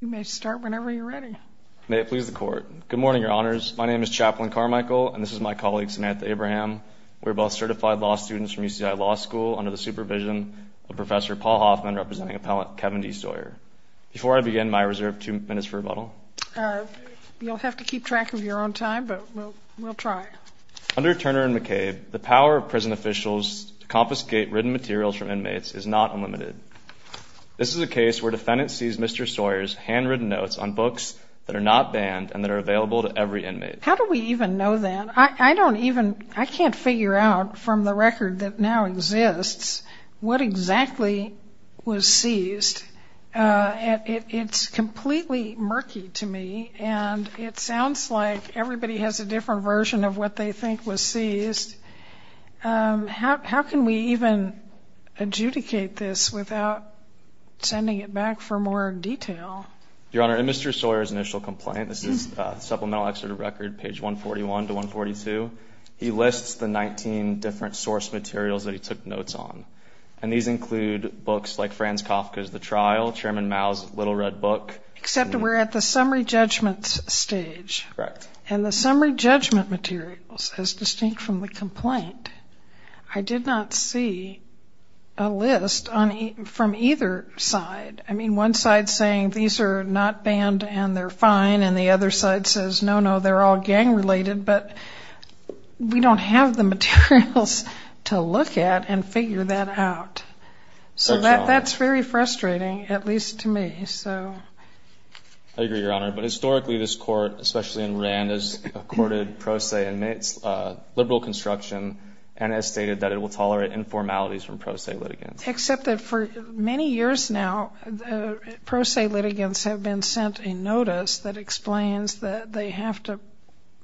You may start whenever you're ready. May it please the Court. Good morning, Your Honors. My name is Chaplain Carmichael, and this is my colleague, Samantha Abraham. We are both certified law students from UCI Law School under the supervision of Professor Paul Hoffman, representing Appellant Kevin D. Sawyer. Before I begin, may I reserve two minutes for rebuttal? You'll have to keep track of your own time, but we'll try. Under Turner and McCabe, the power of prison officials to confiscate written materials from inmates is not unlimited. This is a case where defendants seize Mr. Sawyer's handwritten notes on books that are not banned and that are available to every inmate. How do we even know that? I don't even – I can't figure out from the record that now exists what exactly was seized. It's completely murky to me, and it sounds like everybody has a different version of what they think was seized. How can we even adjudicate this without sending it back for more detail? Your Honor, in Mr. Sawyer's initial complaint, this is Supplemental Excerpt of Record, page 141 to 142, he lists the 19 different source materials that he took notes on, and these include books like Franz Kafka's The Trial, Chairman Mao's Little Red Book. Except we're at the summary judgment stage. Correct. And the summary judgment materials, as distinct from the complaint, I did not see a list from either side. I mean, one side's saying these are not banned and they're fine, and the other side says, no, no, they're all gang-related, but we don't have the materials to look at and figure that out. So that's very frustrating, at least to me. I agree, Your Honor. But historically, this court, especially in Rand, has accorded pro se liberal construction and has stated that it will tolerate informalities from pro se litigants. Except that for many years now, pro se litigants have been sent a notice that explains that they have to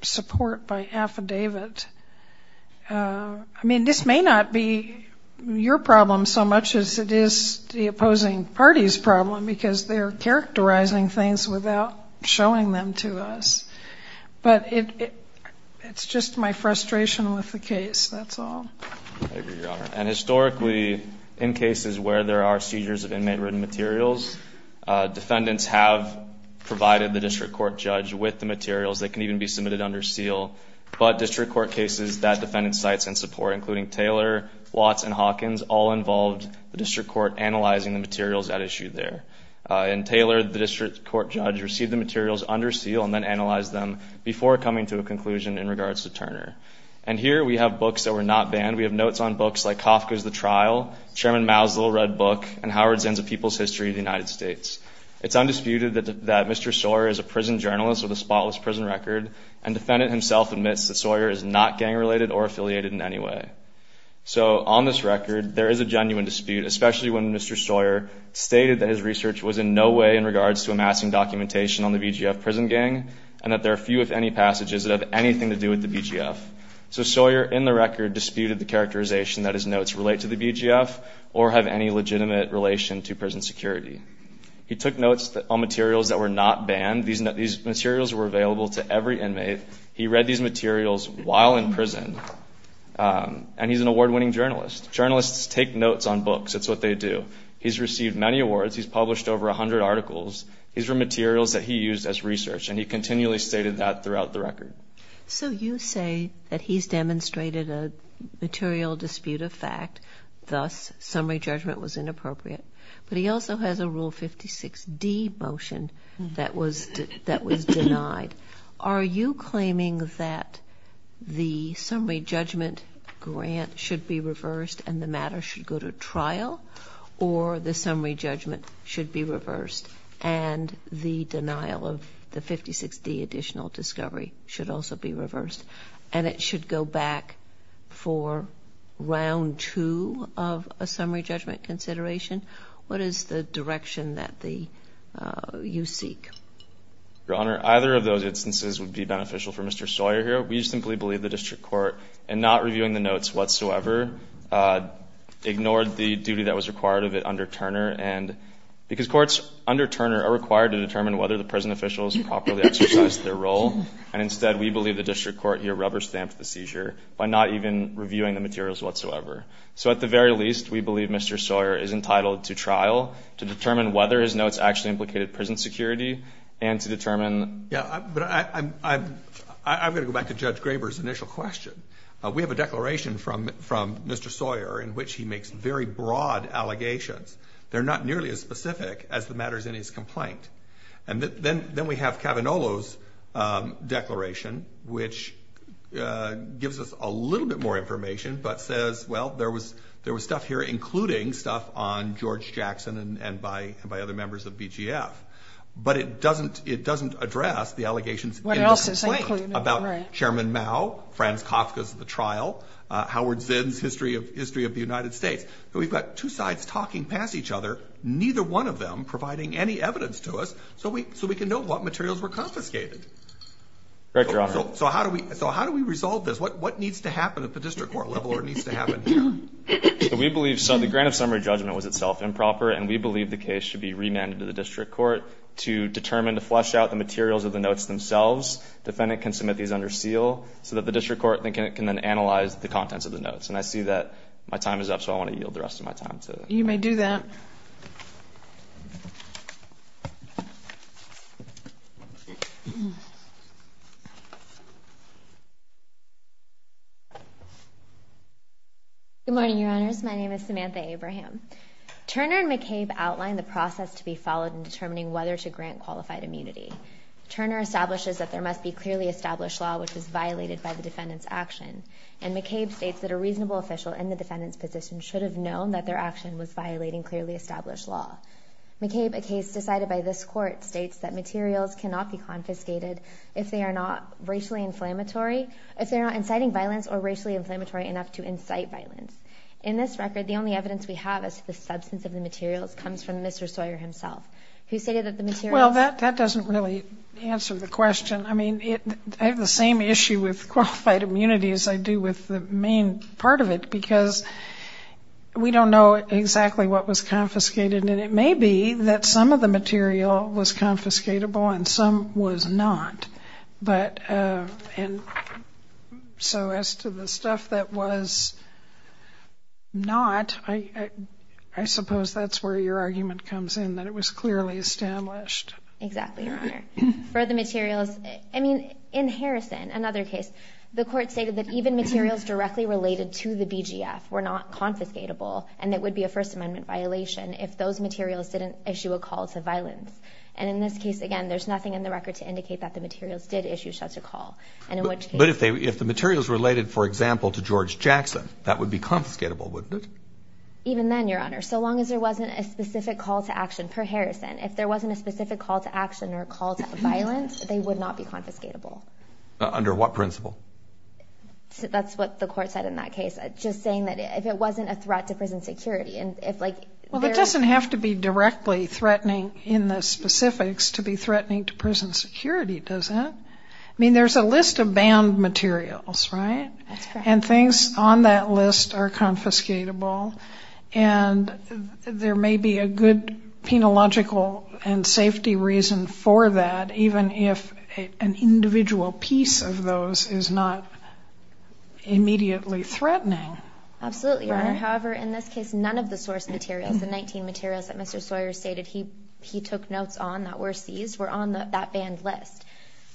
support by affidavit. I mean, this may not be your problem so much as it is the opposing party's problem because they're characterizing things without showing them to us. But it's just my frustration with the case, that's all. I agree, Your Honor. And historically, in cases where there are seizures of inmate-ridden materials, defendants have provided the district court judge with the materials. They can even be submitted under seal. But district court cases that defendants cite and support, including Taylor, Watts, and Hawkins, all involved the district court analyzing the materials at issue there. In Taylor, the district court judge received the materials under seal and then analyzed them before coming to a conclusion in regards to Turner. And here we have books that were not banned. We have notes on books like Kafka's The Trial, Chairman Maslow's Red Book, and Howard Zenz's A People's History of the United States. It's undisputed that Mr. Sawyer is a prison journalist with a spotless prison record, and defendant himself admits that Sawyer is not gang-related or affiliated in any way. So on this record, there is a genuine dispute, especially when Mr. Sawyer stated that his research was in no way in regards to amassing documentation on the BGF prison gang, and that there are few, if any, passages that have anything to do with the BGF. So Sawyer, in the record, disputed the characterization that his notes relate to the BGF or have any legitimate relation to prison security. He took notes on materials that were not banned. These materials were available to every inmate. He read these materials while in prison, and he's an award-winning journalist. Journalists take notes on books. It's what they do. He's received many awards. He's published over 100 articles. These were materials that he used as research, and he continually stated that throughout the record. So you say that he's demonstrated a material dispute of fact, thus summary judgment was inappropriate. But he also has a Rule 56D motion that was denied. Are you claiming that the summary judgment grant should be reversed and the matter should go to trial, or the summary judgment should be reversed and the denial of the 56D additional discovery should also be reversed and it should go back for round two of a summary judgment consideration? What is the direction that you seek? Your Honor, either of those instances would be beneficial for Mr. Sawyer here. We simply believe the district court in not reviewing the notes whatsoever ignored the duty that was required of it under Turner because courts under Turner are required to determine whether the prison officials properly exercised their role, and instead we believe the district court here rubber-stamped the seizure by not even reviewing the materials whatsoever. So at the very least, we believe Mr. Sawyer is entitled to trial to determine whether his notes actually implicated prison security and to determine... Yeah, but I'm going to go back to Judge Graber's initial question. We have a declaration from Mr. Sawyer in which he makes very broad allegations. They're not nearly as specific as the matters in his complaint. And then we have Cavanolo's declaration, which gives us a little bit more information, but says, well, there was stuff here including stuff on George Jackson and by other members of BGF. But it doesn't address the allegations in the complaint about Chairman Mao, Franz Kafka's The Trial, Howard Zinn's History of the United States. We've got two sides talking past each other, neither one of them providing any evidence to us so we can know what materials were confiscated. Correct, Your Honor. So how do we resolve this? What needs to happen at the district court level or needs to happen here? We believe so. The grant of summary judgment was itself improper, and we believe the case should be remanded to the district court to determine to flesh out the materials of the notes themselves. Defendant can submit these under seal so that the district court can then analyze the contents of the notes. And I see that my time is up, so I want to yield the rest of my time to... You may do that. Good morning, Your Honors. My name is Samantha Abraham. Turner and McCabe outlined the process to be followed in determining whether to grant qualified immunity. Turner establishes that there must be clearly established law which was violated by the defendant's action, and McCabe states that a reasonable official in the defendant's position should have known that their action was violating clearly established law. McCabe, a case decided by this court, states that materials cannot be confiscated if they are not racially inflammatory, if they are not inciting violence or racially inflammatory enough to incite violence. In this record, the only evidence we have as to the substance of the materials comes from Mr. Sawyer himself, who stated that the materials... Well, that doesn't really answer the question. I mean, I have the same issue with qualified immunity as I do with the main part of it because we don't know exactly what was confiscated, and it may be that some of the material was confiscatable and some was not. But... So as to the stuff that was not, I suppose that's where your argument comes in, that it was clearly established. Exactly, Your Honor. For the materials... I mean, in Harrison, another case, the court stated that even materials directly related to the BGF were not confiscatable and it would be a First Amendment violation if those materials didn't issue a call to violence. And in this case, again, there's nothing in the record to indicate that the materials did issue such a call. But if the materials related, for example, to George Jackson, that would be confiscatable, wouldn't it? Even then, Your Honor, so long as there wasn't a specific call to action per Harrison, if there wasn't a specific call to action or call to violence, they would not be confiscatable. Under what principle? That's what the court said in that case, just saying that if it wasn't a threat to prison security and if, like... Well, it doesn't have to be directly threatening in the specifics to be threatening to prison security, does it? I mean, there's a list of banned materials, right? That's correct. And things on that list are confiscatable. And there may be a good penological and safety reason for that, even if an individual piece of those is not immediately threatening. Absolutely, Your Honor. However, in this case, none of the source materials, the 19 materials that Mr. Sawyer stated he took notes on that were seized, were on that banned list.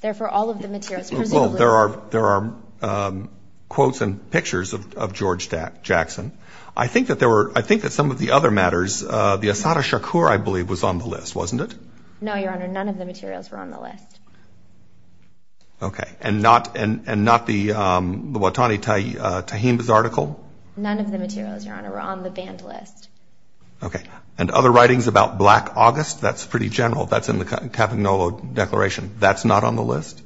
Therefore, all of the materials presumably... Well, there are quotes and pictures of George Jackson. I think that some of the other matters, the Asada Shakur, I believe, was on the list, wasn't it? No, Your Honor. None of the materials were on the list. Okay. And not the Watani Tahima's article? None of the materials, Your Honor, were on the banned list. Okay. And other writings about Black August? That's pretty general. That's in the Kavanaugh Declaration. That's not on the list?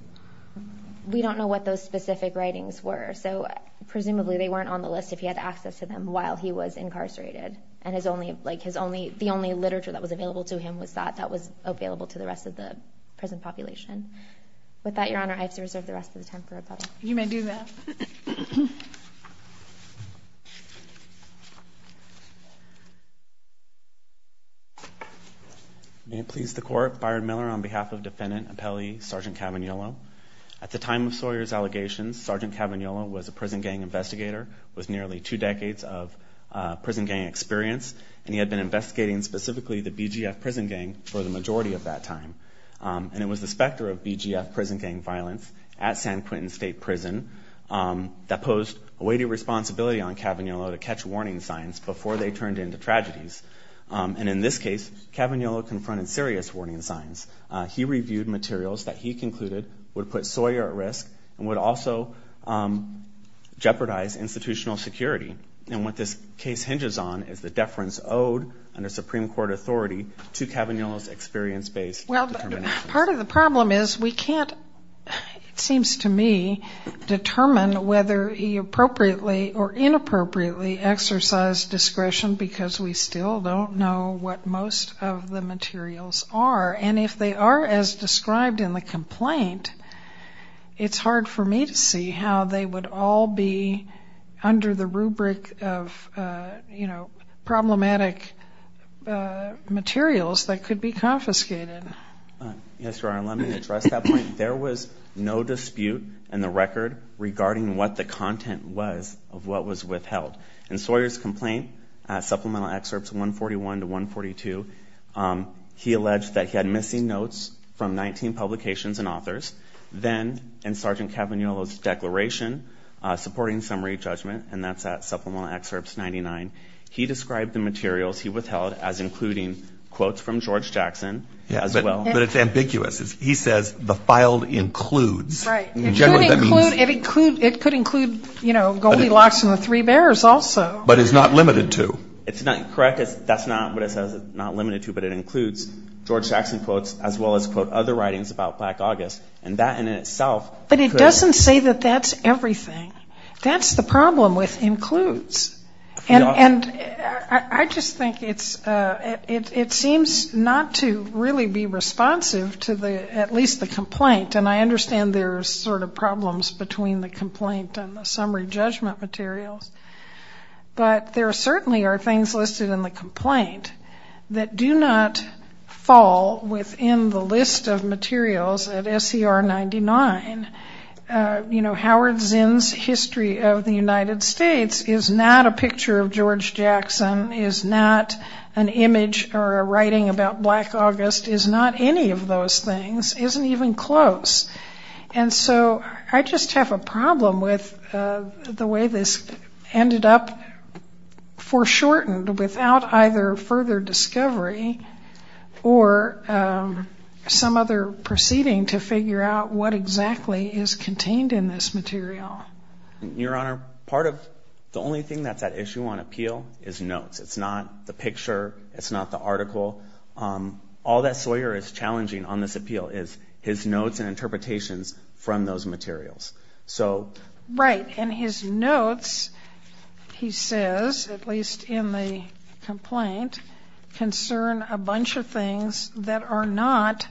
We don't know what those specific writings were, so presumably they weren't on the list if he had access to them while he was incarcerated. And the only literature that was available to him was that that was available to the rest of the prison population. With that, Your Honor, I have to reserve the rest of the time for rebuttal. You may do that. May it please the Court. Byron Miller on behalf of Defendant Appelli, Sergeant Cavagnolo. At the time of Sawyer's allegations, Sergeant Cavagnolo was a prison gang investigator with nearly two decades of prison gang experience, and he had been investigating specifically the BGF prison gang for the majority of that time. And it was the specter of BGF prison gang violence at San Quentin State Prison that posed a weighty responsibility on Cavagnolo to catch warning signs before they turned into tragedies. And in this case, Cavagnolo confronted serious warning signs. He reviewed materials that he concluded would put Sawyer at risk and would also jeopardize institutional security. And what this case hinges on is the deference owed, under Supreme Court authority, to Cavagnolo's experience-based determinations. Well, part of the problem is we can't, it seems to me, determine whether he appropriately or inappropriately exercised discretion because we still don't know what most of the materials are. And if they are as described in the complaint, it's hard for me to see how they would all be under the rubric of problematic materials that could be confiscated. Yes, Your Honor, let me address that point. There was no dispute in the record regarding what the content was of what was withheld. In Sawyer's complaint, Supplemental Excerpts 141 to 142, he alleged that he had missing notes from 19 publications and authors. Then, in Sgt. Cavagnolo's declaration, supporting summary judgment, and that's at Supplemental Excerpts 99, he described the materials he withheld as including quotes from George Jackson as well. But it's ambiguous. He says the file includes. Right. It could include Goldilocks and the Three Bears also. But it's not limited to. It's not correct. That's not what it says it's not limited to, but it includes George Jackson quotes as well as, quote, other writings about Black August. And that in itself could. But it doesn't say that that's everything. That's the problem with includes. And I just think it seems not to really be responsive to at least the complaint. And I understand there are sort of problems between the complaint and the summary judgment materials. But there certainly are things listed in the complaint that do not fall within the list of materials at SCR 99. You know, Howard Zinn's History of the United States is not a picture of George Jackson, is not an image or a writing about Black August, is not any of those things, isn't even close. And so I just have a problem with the way this ended up foreshortened without either further discovery or some other proceeding to figure out what exactly is contained in this material. Your Honor, part of the only thing that's at issue on appeal is notes. It's not the picture. It's not the article. All that Sawyer is challenging on this appeal is his notes and interpretations from those materials. Right. And his notes, he says, at least in the complaint, concern a bunch of things that are not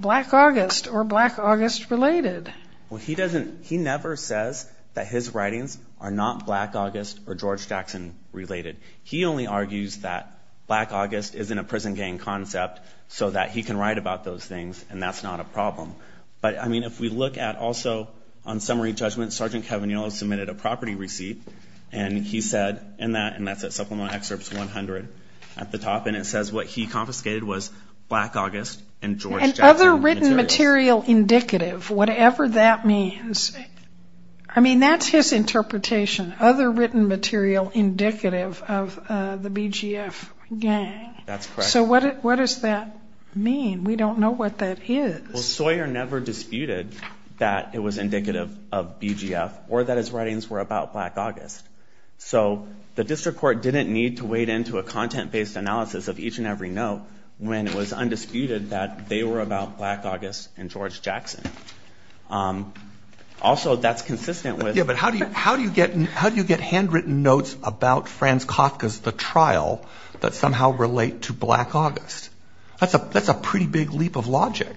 Black August or Black August related. He never says that his writings are not Black August or George Jackson related. He only argues that Black August isn't a prison gang concept so that he can write about those things, and that's not a problem. But, I mean, if we look at also on summary judgment, Sergeant Kevan Yellow submitted a property receipt, and he said in that, and that's at Supplemental Excerpts 100 at the top, and it says what he confiscated was Black August and George Jackson. And other written material indicative, whatever that means. I mean, that's his interpretation, other written material indicative of the BGF gang. That's correct. So what does that mean? We don't know what that is. Well, Sawyer never disputed that it was indicative of BGF or that his writings were about Black August. So the district court didn't need to wade into a content-based analysis of each and every note when it was undisputed that they were about Black August and George Jackson. Also, that's consistent with the- Yeah, but how do you get handwritten notes about Franz Kafka's The Trial that somehow relate to Black August? That's a pretty big leap of logic.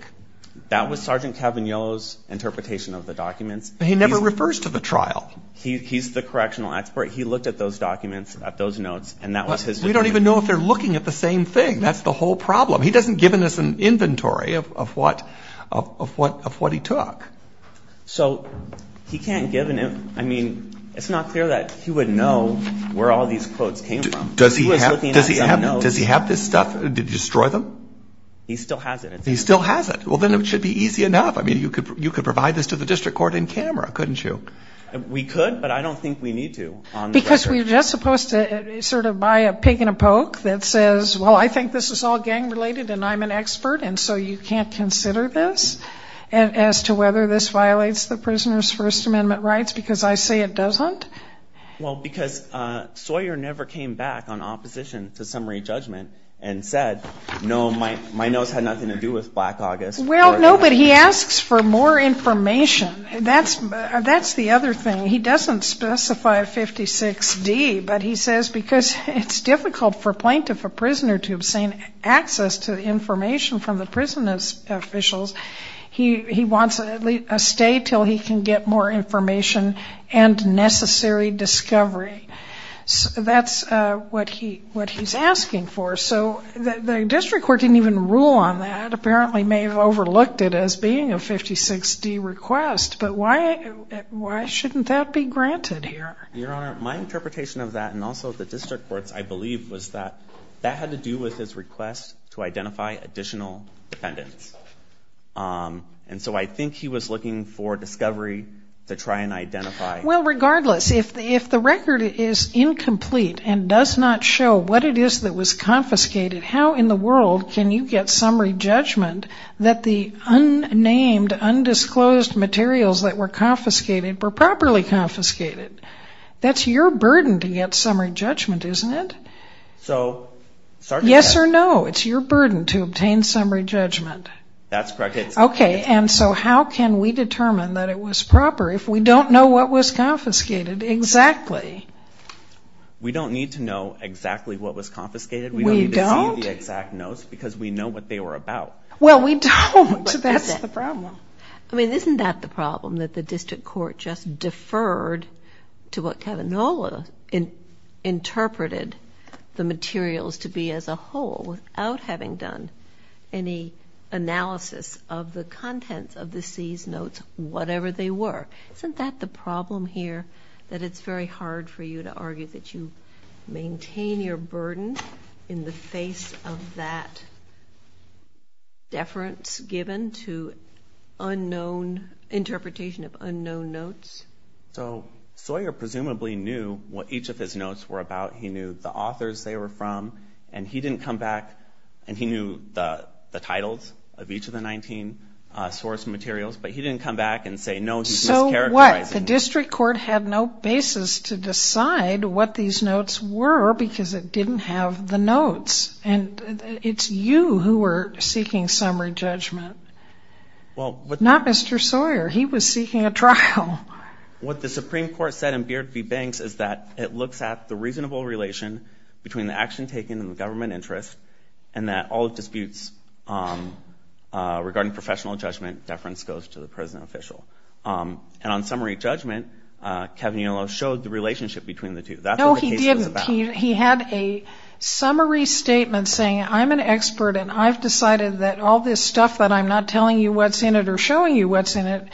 That was Sergeant Kevan Yellow's interpretation of the documents. He never refers to The Trial. He's the correctional expert. He looked at those documents, at those notes, and that was his- We don't even know if they're looking at the same thing. That's the whole problem. He doesn't give us an inventory of what he took. So he can't give an- I mean, it's not clear that he would know where all these quotes came from. Does he have this stuff to destroy them? He still has it. He still has it. Well, then it should be easy enough. I mean, you could provide this to the district court in camera, couldn't you? We could, but I don't think we need to. Because we're just supposed to sort of buy a pig in a poke that says, well, I think this is all gang-related and I'm an expert, and so you can't consider this as to whether this violates the prisoner's First Amendment rights because I say it doesn't? Well, because Sawyer never came back on opposition to summary judgment and said, no, my notes had nothing to do with Black August. Well, no, but he asks for more information. That's the other thing. He doesn't specify 56D, but he says because it's difficult for a plaintiff or prisoner to obtain access to information from the prisoner's officials, he wants at least a stay until he can get more information and necessary discovery. That's what he's asking for. So the district court didn't even rule on that, apparently may have overlooked it as being a 56D request. But why shouldn't that be granted here? Your Honor, my interpretation of that and also the district court's, I believe, was that that had to do with his request to identify additional defendants. And so I think he was looking for discovery to try and identify. Well, regardless, if the record is incomplete and does not show what it is that was confiscated, how in the world can you get summary judgment that the unnamed, undisclosed materials that were confiscated were properly confiscated? That's your burden to get summary judgment, isn't it? Yes or no, it's your burden to obtain summary judgment. That's correct. Okay, and so how can we determine that it was proper if we don't know what was confiscated exactly? We don't need to know exactly what was confiscated. We don't need to see the exact notes because we know what they were about. Well, we don't. That's the problem. I mean, isn't that the problem, that the district court just deferred to what Kavanaugh interpreted the materials to be as a whole without having done any analysis of the contents of the seized notes, whatever they were? Isn't that the problem here, that it's very hard for you to argue that you maintain your burden in the face of that deference given to interpretation of unknown notes? So Sawyer presumably knew what each of his notes were about. He knew the authors they were from, and he didn't come back and he knew the titles of each of the 19 source materials, but he didn't come back and say, no, he's mischaracterizing them. So what? The district court had no basis to decide what these notes were because it didn't have the notes. And it's you who were seeking summary judgment, not Mr. Sawyer. He was seeking a trial. What the Supreme Court said in Beard v. Banks is that it looks at the reasonable relation between the action taken and the government interest and that all disputes regarding professional judgment deference goes to the present official. And on summary judgment, Kavanaugh showed the relationship between the two. That's what the case was about. No, he didn't. He had a summary statement saying, I'm an expert and I've decided that all this stuff that I'm not telling you what's in it or showing you what's in it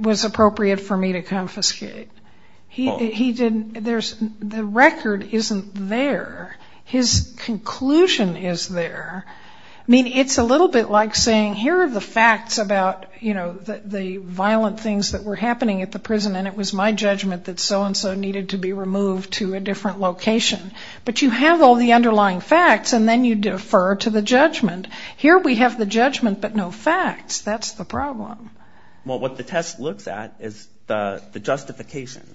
was appropriate for me to confiscate. The record isn't there. His conclusion is there. I mean, it's a little bit like saying, here are the facts about the violent things that were happening at the prison, and it was my judgment that so-and-so needed to be removed to a different location. But you have all the underlying facts, and then you defer to the judgment. Here we have the judgment but no facts. That's the problem. Well, what the test looks at is the justification.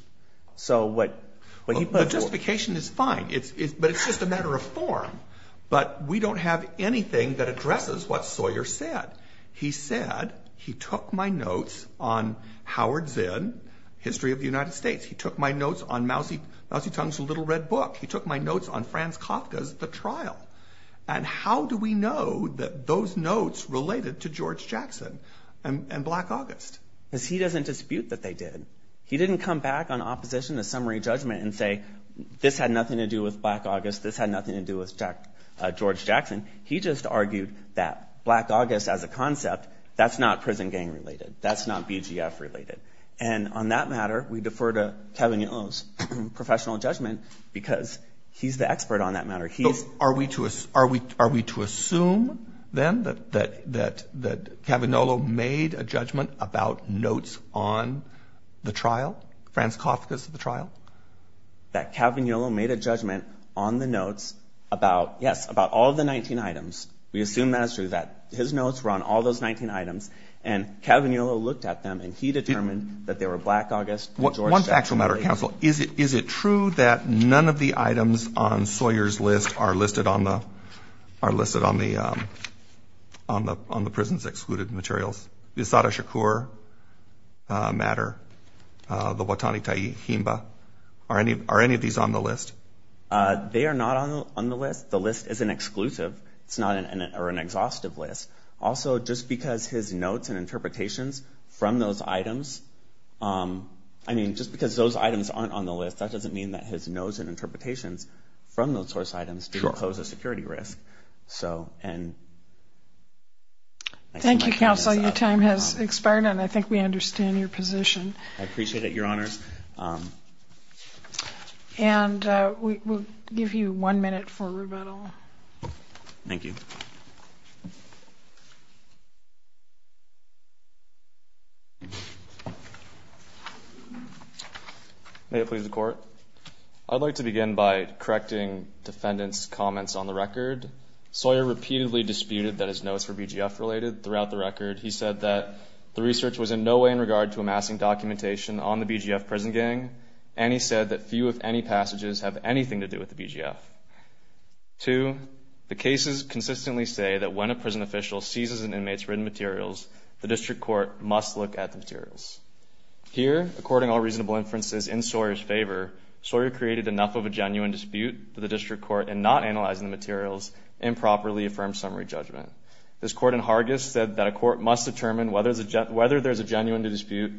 The justification is fine, but it's just a matter of form. But we don't have anything that addresses what Sawyer said. He said he took my notes on Howard Zinn, History of the United States. He took my notes on Mousy Tung's Little Red Book. He took my notes on Franz Kafka's The Trial. And how do we know that those notes related to George Jackson and Black August? Because he doesn't dispute that they did. He didn't come back on opposition to summary judgment and say, this had nothing to do with Black August, this had nothing to do with George Jackson. He just argued that Black August as a concept, that's not prison gang related. That's not BGF related. And on that matter, we defer to Cavagnolo's professional judgment because he's the expert on that matter. Are we to assume then that Cavagnolo made a judgment about notes on The Trial, Franz Kafka's The Trial? That Cavagnolo made a judgment on the notes about, yes, about all of the 19 items. We assume that is true, that his notes were on all those 19 items. And Cavagnolo looked at them, and he determined that they were Black August and George Jackson. One factual matter, counsel. Is it true that none of the items on Sawyer's list are listed on the prisons-excluded materials? Is that a Shakur matter? The Watani Ta'i Himba? Are any of these on the list? They are not on the list. The list is an exclusive. It's not an exhaustive list. Also, just because his notes and interpretations from those items, I mean, just because those items aren't on the list, that doesn't mean that his notes and interpretations from those source items didn't pose a security risk. Thank you, counsel. Your time has expired, and I think we understand your position. I appreciate it, Your Honors. And we'll give you one minute for rebuttal. Thank you. May it please the Court. I'd like to begin by correcting defendant's comments on the record. Sawyer repeatedly disputed that his notes were BGF-related throughout the record. He said that the research was in no way in regard to amassing documentation on the BGF prison gang, and he said that few, if any, passages have anything to do with the BGF. Two, the cases consistently say that when a prison official seizes an inmate's written materials, the district court must look at the materials. Here, according to all reasonable inferences in Sawyer's favor, Sawyer created enough of a genuine dispute for the district court in not analyzing the materials in properly affirmed summary judgment. This court in Hargis said that a court must determine whether there's a genuine dispute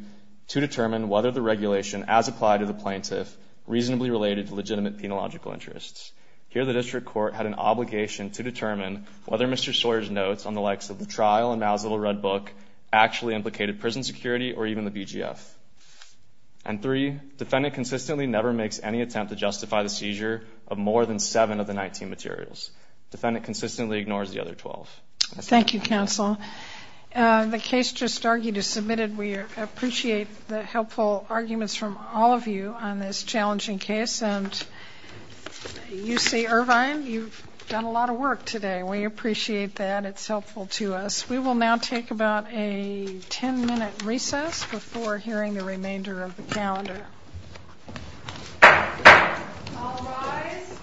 to determine whether the regulation as applied to the plaintiff reasonably related to legitimate penological interests. Here, the district court had an obligation to determine whether Mr. Sawyer's notes on the likes of the trial and Maslow's red book actually implicated prison security or even the BGF. And three, defendant consistently never makes any attempt to justify the seizure of more than seven of the 19 materials. Defendant consistently ignores the other 12. Thank you, counsel. The case just argued is submitted. We appreciate the helpful arguments from all of you on this challenging case, and UC Irvine, you've done a lot of work today. We appreciate that. It's helpful to us. We will now take about a 10-minute recess before hearing the remainder of the calendar. All rise.